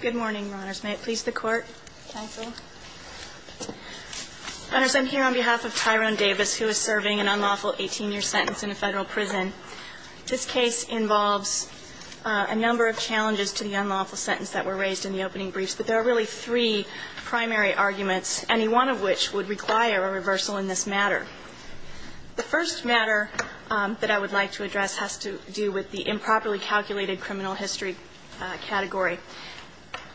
Good morning, Your Honors. May it please the Court, Counsel. Your Honors, I'm here on behalf of Tyrone Davis, who is serving an unlawful 18-year sentence in a Federal prison. This case involves a number of challenges to the unlawful sentence that were raised in the opening briefs, but there are really three primary arguments, any one of which would require a reversal in this matter. The first matter that I would like to address has to do with the improperly calculated criminal history category.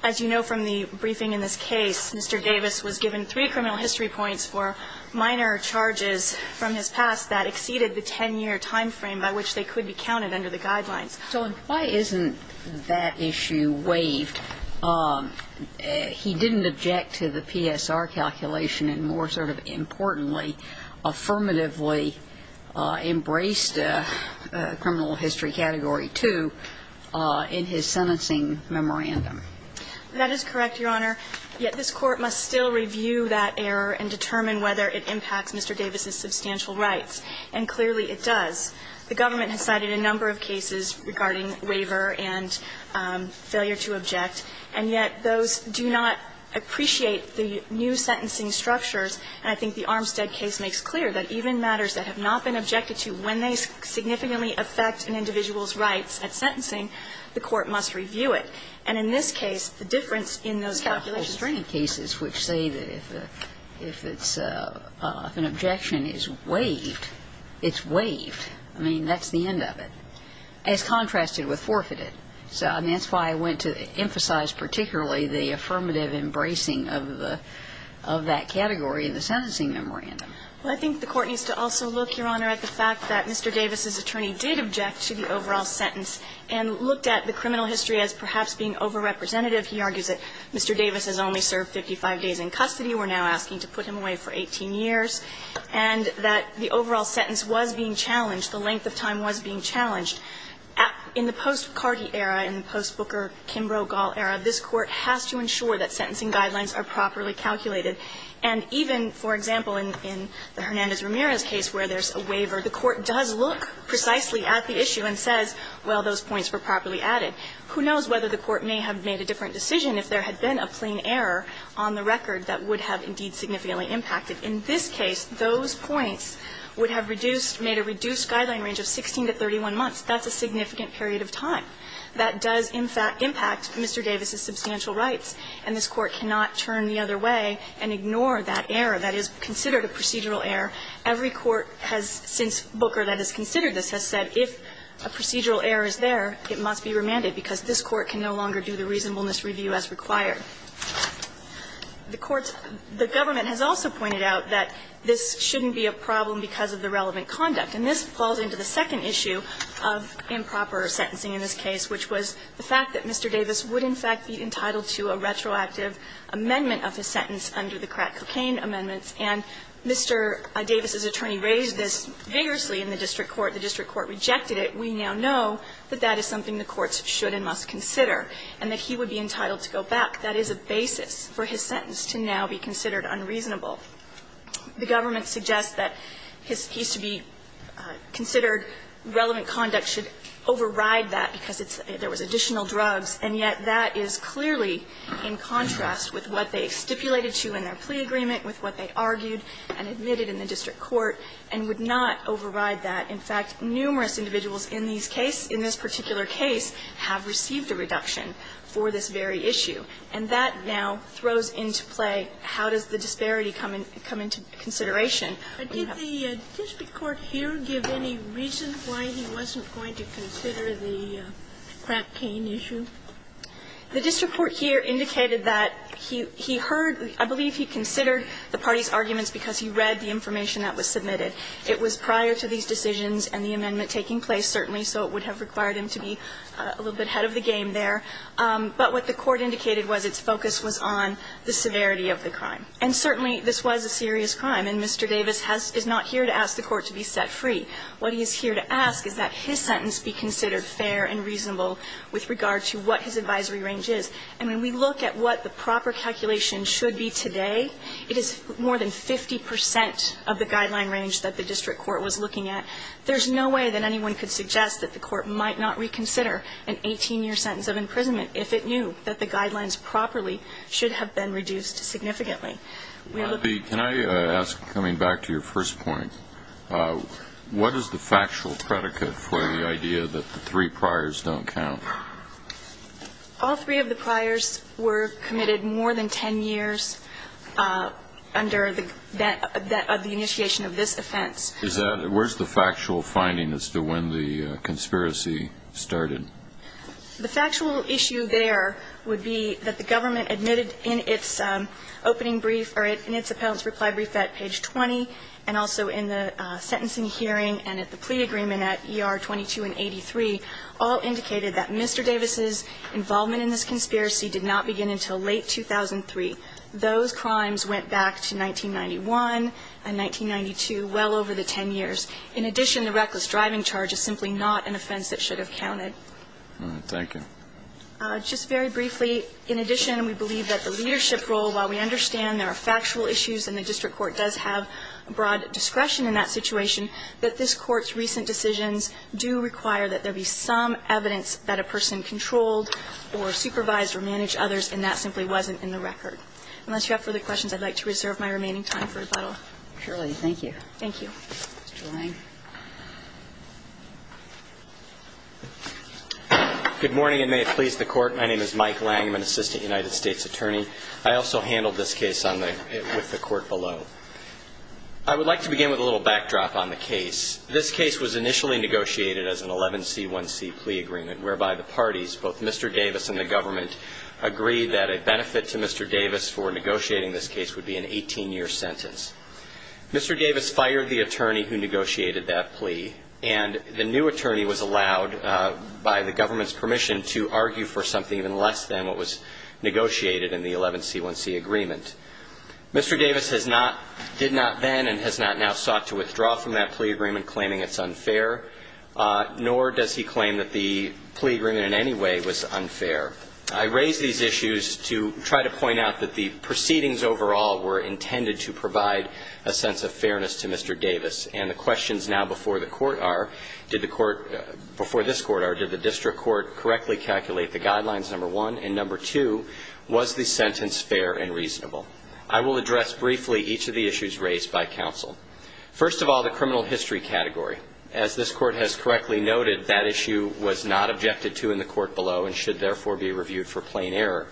As you know from the briefing in this case, Mr. Davis was given three criminal history points for minor charges from his past that exceeded the 10-year time frame by which they could be counted under the guidelines. So why isn't that issue waived? He didn't object to the PSR calculation and, more sort of importantly, affirmatively embraced criminal history category 2 in his sentencing memorandum. That is correct, Your Honor. Yet this Court must still review that error and determine whether it impacts Mr. Davis's substantial rights, and clearly it does. The government has cited a number of cases regarding waiver and failure to object, and yet those do not appreciate the new sentencing structures. And I think the Armstead case makes clear that even matters that have not been objected to, when they significantly affect an individual's rights at sentencing, the court must review it. And in this case, the difference in those calculations was that there was a number of cases which say that if it's an objection is waived, it's waived. I mean, that's the end of it, as contrasted with forfeited. So that's why I went to emphasize particularly the affirmative embracing of the – of that category in the sentencing memorandum. Well, I think the Court needs to also look, Your Honor, at the fact that Mr. Davis's attorney did object to the overall sentence and looked at the criminal history as perhaps being over-representative. He argues that Mr. Davis has only served 55 days in custody. We're now asking to put him away for 18 years. And that the overall sentence was being challenged, the length of time was being challenged. In the post-Carty era, in the post-Booker, Kimbrough, Gall era, this Court has to ensure that sentencing guidelines are properly calculated. And even, for example, in the Hernandez-Ramirez case where there's a waiver, the Court does look precisely at the issue and says, well, those points were properly added. Who knows whether the Court may have made a different decision if there had been a plain error on the record that would have indeed significantly impacted. In this case, those points would have reduced, made a reduced guideline range of 16 to 31 months. That's a significant period of time. That does, in fact, impact Mr. Davis's substantial rights. And this Court cannot turn the other way and ignore that error. That is considered a procedural error. Every court has since Booker that has considered this has said if a procedural error is there, it must be remanded because this Court can no longer do the reasonableness review as required. The Court's the Government has also pointed out that this shouldn't be a problem because of the relevant conduct. And this falls into the second issue of improper sentencing in this case, which was the fact that Mr. Davis would, in fact, be entitled to a retroactive amendment of his sentence under the crack cocaine amendments. And Mr. Davis's attorney raised this vigorously in the district court. The district court rejected it. We now know that that is something the courts should and must consider and that he would be entitled to go back. That is a basis for his sentence to now be considered unreasonable. The Government suggests that his piece to be considered relevant conduct should override that because it's there was additional drugs, and yet that is clearly in contrast with what they stipulated to in their plea agreement, with what they argued and admitted in the district court, and would not override that. In fact, numerous individuals in these cases, in this particular case, have received a reduction for this very issue. And that now throws into play how does the disparity come in to consideration. When you have the district court here give any reason why he wasn't going to consider the crack cane issue? The district court here indicated that he heard, I believe he considered the party's arguments because he read the information that was submitted. It was prior to these decisions and the amendment taking place, certainly, so it would have required him to be a little bit ahead of the game there. But what the court indicated was its focus was on the severity of the crime. And certainly, this was a serious crime, and Mr. Davis has – is not here to ask the court to be set free. What he is here to ask is that his sentence be considered fair and reasonable with regard to what his advisory range is. And when we look at what the proper calculation should be today, it is more than 50 percent of the guideline range that the district court was looking at. There's no way that anyone could suggest that the court might not reconsider an 18-year sentence of imprisonment if it knew that the guidelines properly should have been reduced significantly. We look at the – Can I ask, coming back to your first point, what is the factual predicate for the idea that the three priors don't count? All three of the priors were committed more than 10 years under the – that – of the initiation of this offense. Is that – where's the factual finding as to when the conspiracy started? The factual issue there would be that the government admitted in its opening brief – or in its appellant's reply brief at page 20 and also in the sentencing hearing and at the plea agreement at ER 22 and 83 all indicated that Mr. Davis's involvement in this conspiracy did not begin until late 2003. Those crimes went back to 1991 and 1992, well over the 10 years. In addition, the reckless driving charge is simply not an offense that should have counted. Thank you. Just very briefly, in addition, we believe that the leadership role, while we understand there are factual issues and the district court does have broad discretion in that situation, that this Court's recent decisions do require that there be some evidence that a person controlled or supervised or managed others, and that simply wasn't in the record. Unless you have further questions, I'd like to reserve my remaining time for a little. Surely. Thank you. Thank you. Mr. Lang. Good morning, and may it please the Court. My name is Mike Lang. I'm an assistant United States attorney. I also handled this case on the – with the Court below. I would like to begin with a little backdrop on the case. This case was initially negotiated as an 11C1C plea agreement, whereby the parties, both Mr. Davis and the government, agreed that a benefit to Mr. Davis for negotiating this case would be an 18-year sentence. Mr. Davis fired the attorney who negotiated that plea, and the new attorney was allowed by the government's permission to argue for something even less than what was negotiated in the 11C1C agreement. Mr. Davis has not – did not then and has not now sought to withdraw from that plea agreement, claiming it's unfair, nor does he claim that the plea agreement in any way was unfair. I raise these issues to try to point out that the proceedings overall were intended to provide a sense of fairness to Mr. Davis. And the questions now before the Court are, did the Court – before this Court are, did the district court correctly calculate the guidelines, number one? And number two, was the sentence fair and reasonable? I will address briefly each of the issues raised by counsel. First of all, the criminal history category. As this Court has correctly noted, that issue was not objected to in the Court below and should therefore be reviewed for plain error.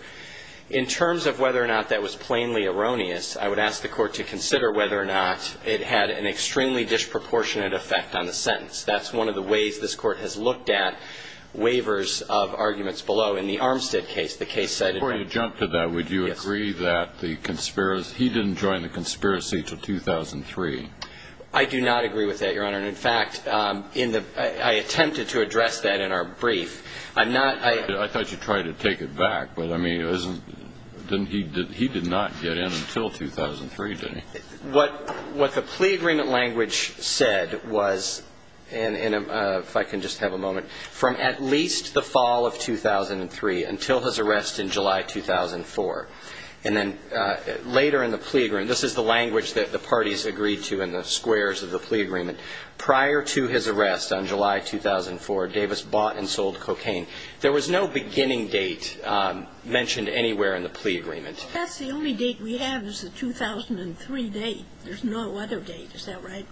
In terms of whether or not that was plainly erroneous, I would ask the Court to consider whether or not it had an extremely disproportionate effect on the sentence. That's one of the ways this Court has looked at waivers of arguments below. In the Armstead case, the case said – Before you jump to that, would you agree that the – he didn't join the conspiracy until 2003? I do not agree with that, Your Honor. And in fact, in the – I attempted to address that in our brief. I'm not – I thought you tried to take it back. But, I mean, it wasn't – didn't he – he did not get in until 2003, did he? What – what the plea agreement language said was – and if I can just have a moment – from at least the fall of 2003 until his arrest in July 2004. And then later in the plea agreement – this is the language that the parties agreed to in the squares of the plea agreement. Prior to his arrest on July 2004, Davis bought and sold cocaine. There was no beginning date mentioned anywhere in the plea agreement. I guess the only date we have is the 2003 date. There's no other date. Is that right?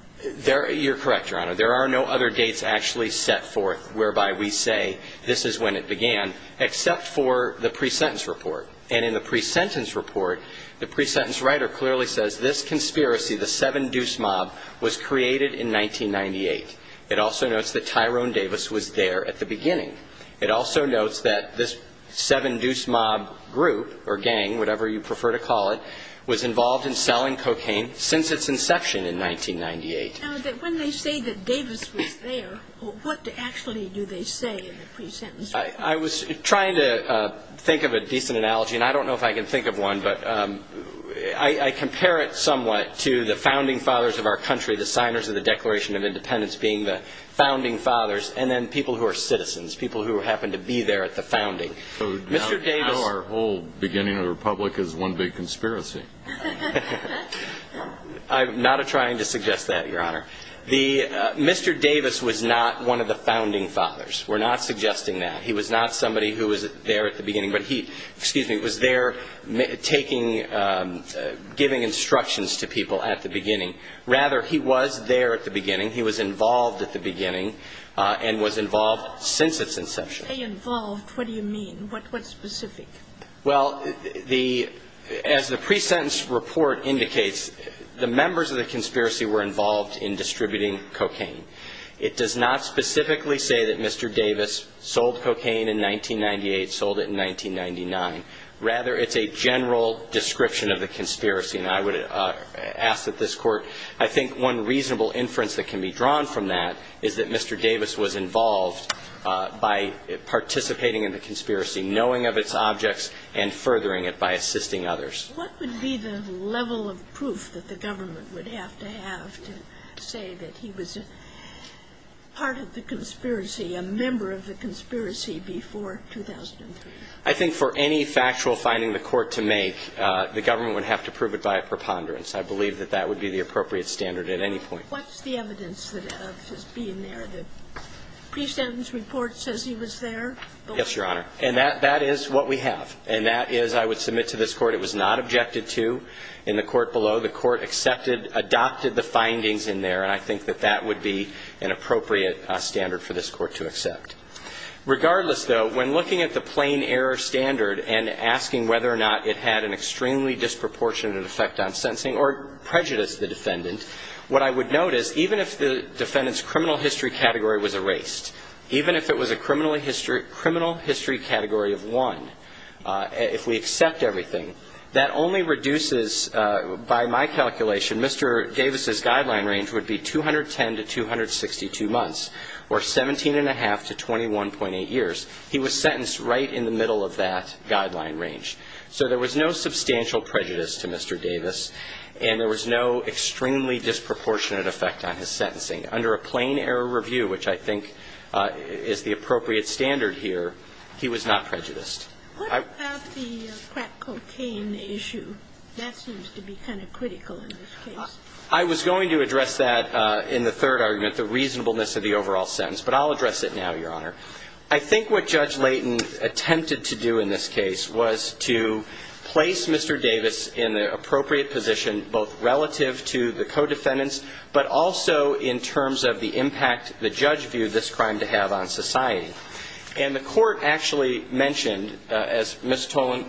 You're correct, Your Honor. There are no other dates actually set forth whereby we say this is when it began, except for the pre-sentence report. And in the pre-sentence report, the pre-sentence writer clearly says, this conspiracy, the Seven Deuce Mob, was created in 1998. It also notes that Tyrone Davis was there at the beginning. It also notes that this Seven Deuce Mob group, or gang, whatever you prefer to call it, was involved in selling cocaine since its inception in 1998. Now, when they say that Davis was there, what actually do they say in the pre-sentence report? I was trying to think of a decent analogy. And I don't know if I can think of one. But I compare it somewhat to the Founding Fathers of our country, the signers of the Declaration of Independence being the Founding Fathers, and then people who are citizens, people who happen to be there at the founding. So now our whole beginning of the Republic is one big conspiracy. I'm not trying to suggest that, Your Honor. The Mr. Davis was not one of the Founding Fathers. We're not suggesting that. He was not somebody who was there at the beginning. But he, excuse me, was there giving instructions to people at the beginning. Rather, he was there at the beginning. He was involved at the beginning and was involved since its inception. When you say involved, what do you mean? What's specific? Well, as the pre-sentence report indicates, the members of the conspiracy were involved in distributing cocaine. It does not specifically say that Mr. Davis sold cocaine in 1998, sold it in 1999. Rather, it's a general description of the conspiracy. And I would ask that this Court, I think one reasonable inference that can be drawn from that is that Mr. Davis was involved by participating in the conspiracy, knowing of its objects, and furthering it by assisting others. What would be the level of proof that the government would have to have to say that he was part of the conspiracy, a member of the conspiracy before 2003? I think for any factual finding the Court to make, the government would have to prove it by a preponderance. I believe that that would be the appropriate standard at any point. What's the evidence of his being there? The pre-sentence report says he was there. Yes, Your Honor. And that is what we have. And that is, I would submit to this Court, it was not objected to in the Court below. The Court accepted, adopted the findings in there, and I think that that would be an appropriate standard for this Court to accept. Regardless, though, when looking at the plain error standard and asking whether or not it had an extremely disproportionate effect on sentencing or prejudiced the defendant, what I would notice, even if the defendant's criminal history category was erased, even if it was a criminal history category of one, if we accept everything, that only reduces, by my calculation, Mr. Davis's guideline range would be 210 to 262 months, or 17 1⁄2 to 21.8 years. He was sentenced right in the middle of that guideline range. So there was no substantial prejudice to Mr. Davis, and there was no extremely disproportionate effect on his sentencing. Under a plain error review, which I think is the appropriate standard here, he was not prejudiced. What about the crack cocaine issue? That seems to be kind of critical in this case. I was going to address that in the third argument, the reasonableness of the overall sentence, but I'll address it now, Your Honor. I think what Judge Layton attempted to do in this case was to place Mr. Davis in the appropriate position, both relative to the co-defendants, but also in terms of the impact the judge viewed this crime to have on society. And the court actually mentioned, as Ms. Toland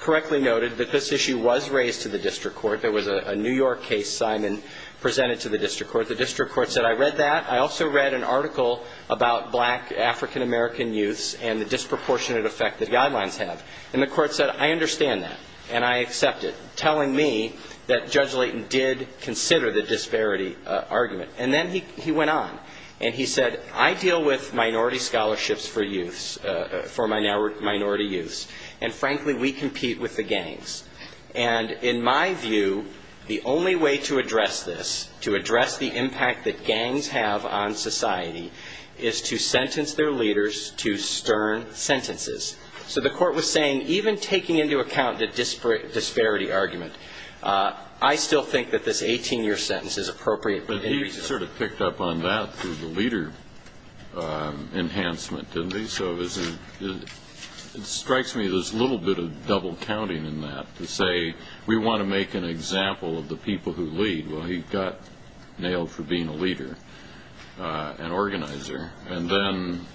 correctly noted, that this issue was raised to the district court. There was a New York case, Simon, presented to the district court. The district court said, I read that. I also read an article about black African-American youths and the disproportionate effect the guidelines have. And the court said, I understand that, and I accept it, telling me that Judge Layton did consider the disparity argument. And then he went on, and he said, I deal with minority scholarships for youths, for minority youths. And frankly, we compete with the gangs. And in my view, the only way to address this, to address the impact that gangs have on society, is to sentence their leaders to stern sentences. So the court was saying, even taking into account the disparity argument, I still think that this 18-year sentence is appropriate. But he sort of picked up on that through the leader enhancement, didn't he? So it strikes me there's a little bit of double counting in that, to say, we want to make an example of the people who lead. Well, he got nailed for being a leader, an organizer. And then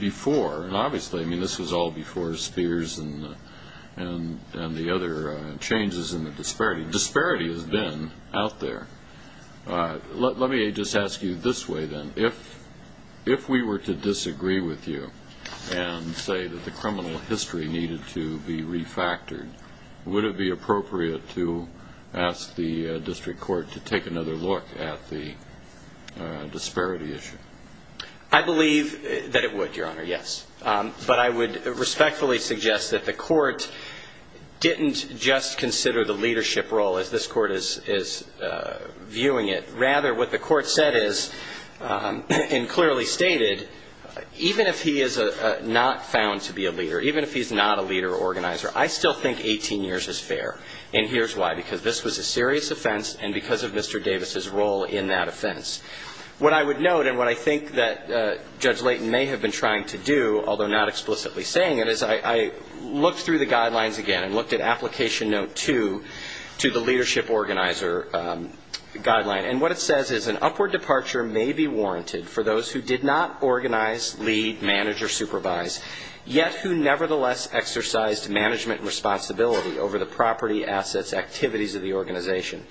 before, and obviously, I mean, this was all before Spears and the other changes in the disparity. Disparity has been out there. Let me just ask you this way, then. If we were to disagree with you, and say that the criminal history needed to be refactored, would it be appropriate to ask the district court to take another look at the disparity issue? I believe that it would, Your Honor, yes. But I would respectfully suggest that the court didn't just consider the leadership role, as this court is viewing it. Rather, what the court said is, and clearly stated, even if he is not found to be a leader, even if he's not a leader or organizer, I still think 18 years is fair. And here's why. Because this was a serious offense, and because of Mr. Davis's role in that offense. What I would note, and what I think that Judge Layton may have been trying to do, although not explicitly saying it, is I looked through the guidelines again. Looked at Application Note 2 to the Leadership Organizer Guideline. And what it says is, an upward departure may be warranted for those who did not organize, lead, manage, or supervise, yet who nevertheless exercised management responsibility over the property, assets, activities of the organization.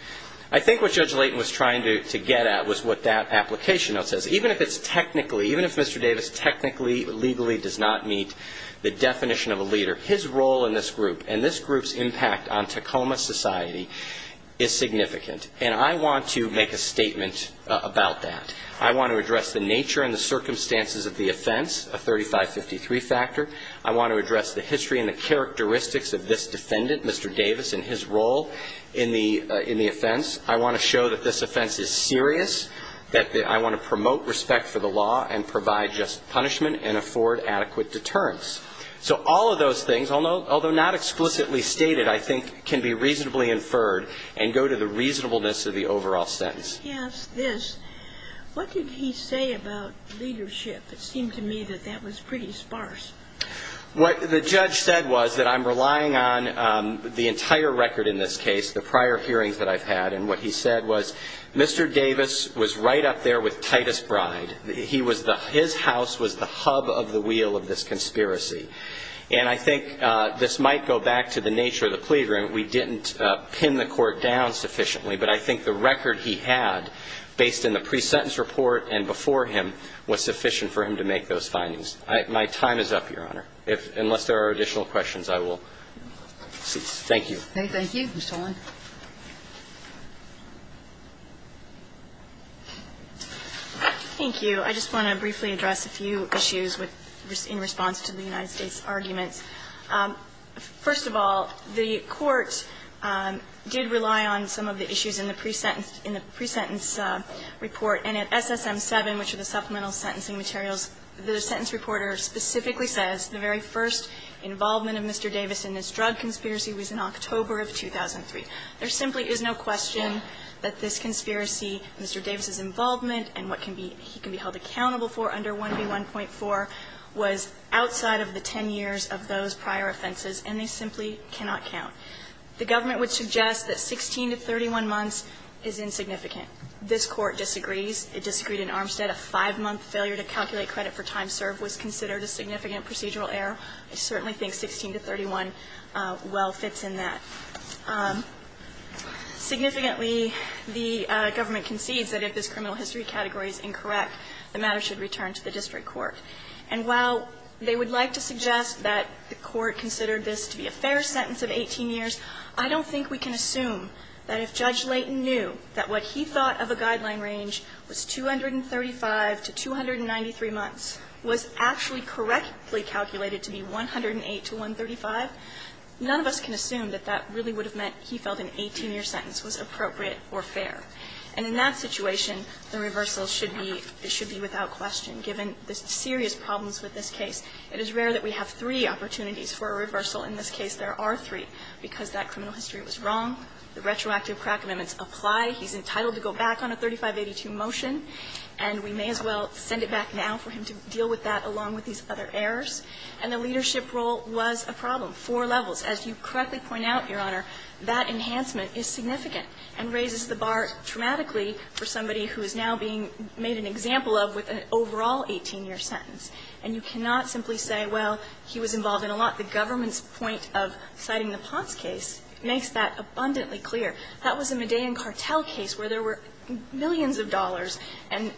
I think what Judge Layton was trying to get at was what that application note says. Even if it's technically, even if Mr. Davis technically, legally does not meet the definition of a leader, his role in this group and this group's impact on Tacoma society is significant. And I want to make a statement about that. I want to address the nature and the circumstances of the offense, a 3553 factor. I want to address the history and the characteristics of this defendant, Mr. Davis, and his role in the offense. I want to show that this offense is serious, that I want to promote respect for the law and provide just punishment and afford adequate deterrence. So all of those things, although not explicitly stated, I think can be reasonably inferred and go to the reasonableness of the overall sentence. He asked this. What did he say about leadership? It seemed to me that that was pretty sparse. What the judge said was that I'm relying on the entire record in this case, the prior hearings that I've had. And what he said was, Mr. Davis was right up there with Titus Bride. His house was the hub of the wheel of this conspiracy. And I think this might go back to the nature of the plea agreement. We didn't pin the court down sufficiently, but I think the record he had based in the pre-sentence report and before him was sufficient for him to make those findings. My time is up, Your Honor. Unless there are additional questions, I will cease. Thank you. Thank you, Mr. Owen. Thank you. I just want to briefly address a few issues in response to the United States arguments. First of all, the court did rely on some of the issues in the pre-sentence report. And at SSM 7, which are the supplemental sentencing materials, the sentence reporter specifically says the very first involvement of Mr. Davis in this drug conspiracy was in October of 2003. There simply is no question that this conspiracy, Mr. Davis' involvement and what can be he can be held accountable for under 1B1.4 was outside of the 10 years of those prior offenses, and they simply cannot count. The government would suggest that 16 to 31 months is insignificant. This Court disagrees. It disagreed in Armstead. A five-month failure to calculate credit for time served was considered a significant procedural error. I certainly think 16 to 31 well fits in that. Significantly, the government concedes that if this criminal history category is incorrect, the matter should return to the district court. And while they would like to suggest that the court considered this to be a fair sentence of 18 years, I don't think we can assume that if Judge Layton knew that what he thought of a guideline range was 235 to 293 months was actually correctly calculated to be 108 to 135, none of us can assume that that would be the case. That really would have meant he felt an 18-year sentence was appropriate or fair. And in that situation, the reversal should be – it should be without question given the serious problems with this case. It is rare that we have three opportunities for a reversal. In this case, there are three because that criminal history was wrong. The retroactive crack amendments apply. He's entitled to go back on a 3582 motion, and we may as well send it back now for him to deal with that along with these other errors. And the leadership role was a problem. Four levels. As you correctly point out, Your Honor, that enhancement is significant and raises the bar dramatically for somebody who is now being made an example of with an overall 18-year sentence. And you cannot simply say, well, he was involved in a lot. The government's point of citing the Potts case makes that abundantly clear. That was a Medellin cartel case where there were millions of dollars and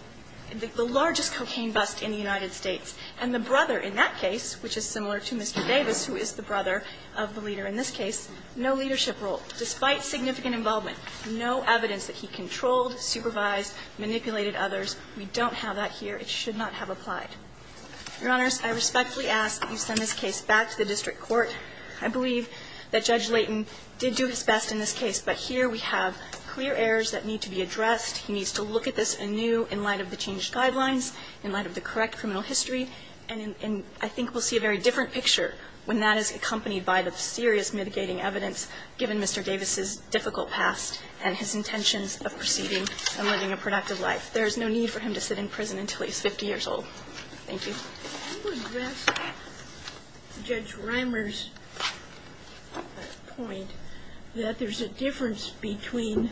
the largest cocaine bust in the United States, and the brother in that case, which is similar to Mr. Davis, who is the brother of the leader in this case, no leadership role, despite significant involvement, no evidence that he controlled, supervised, manipulated others. We don't have that here. It should not have applied. Your Honors, I respectfully ask that you send this case back to the district court. I believe that Judge Layton did do his best in this case, but here we have clear errors that need to be addressed. He needs to look at this anew in light of the changed guidelines, in light of the correct criminal history. And I think we'll see a very different picture when that is accompanied by the serious mitigating evidence given Mr. Davis' difficult past and his intentions of proceeding and living a productive life. There is no need for him to sit in prison until he's 50 years old. Thank you. Sotomayor, I would address Judge Rimer's point that there's a difference between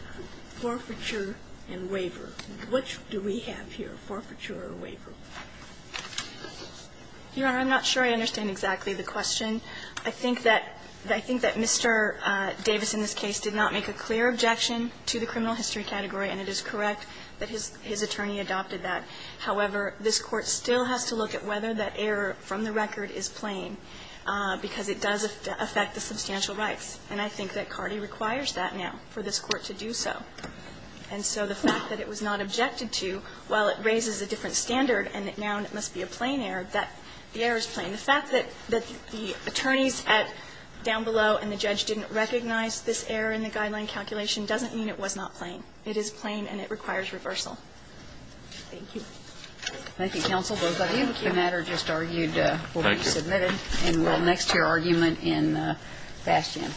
forfeiture and waiver. What do we have here, forfeiture or waiver? Your Honor, I'm not sure I understand exactly the question. I think that Mr. Davis in this case did not make a clear objection to the criminal history category, and it is correct that his attorney adopted that. However, this Court still has to look at whether that error from the record is plain, because it does affect the substantial rights. And I think that Cardi requires that now for this Court to do so. And so the fact that it was not objected to, while it raises a different standard and it now must be a plain error, that the error is plain. The fact that the attorneys at down below and the judge didn't recognize this error in the guideline calculation doesn't mean it was not plain. It is plain and it requires reversal. Thank you. Thank you, counsel. Both of you. The matter just argued will be submitted in the next year argument in Bastion.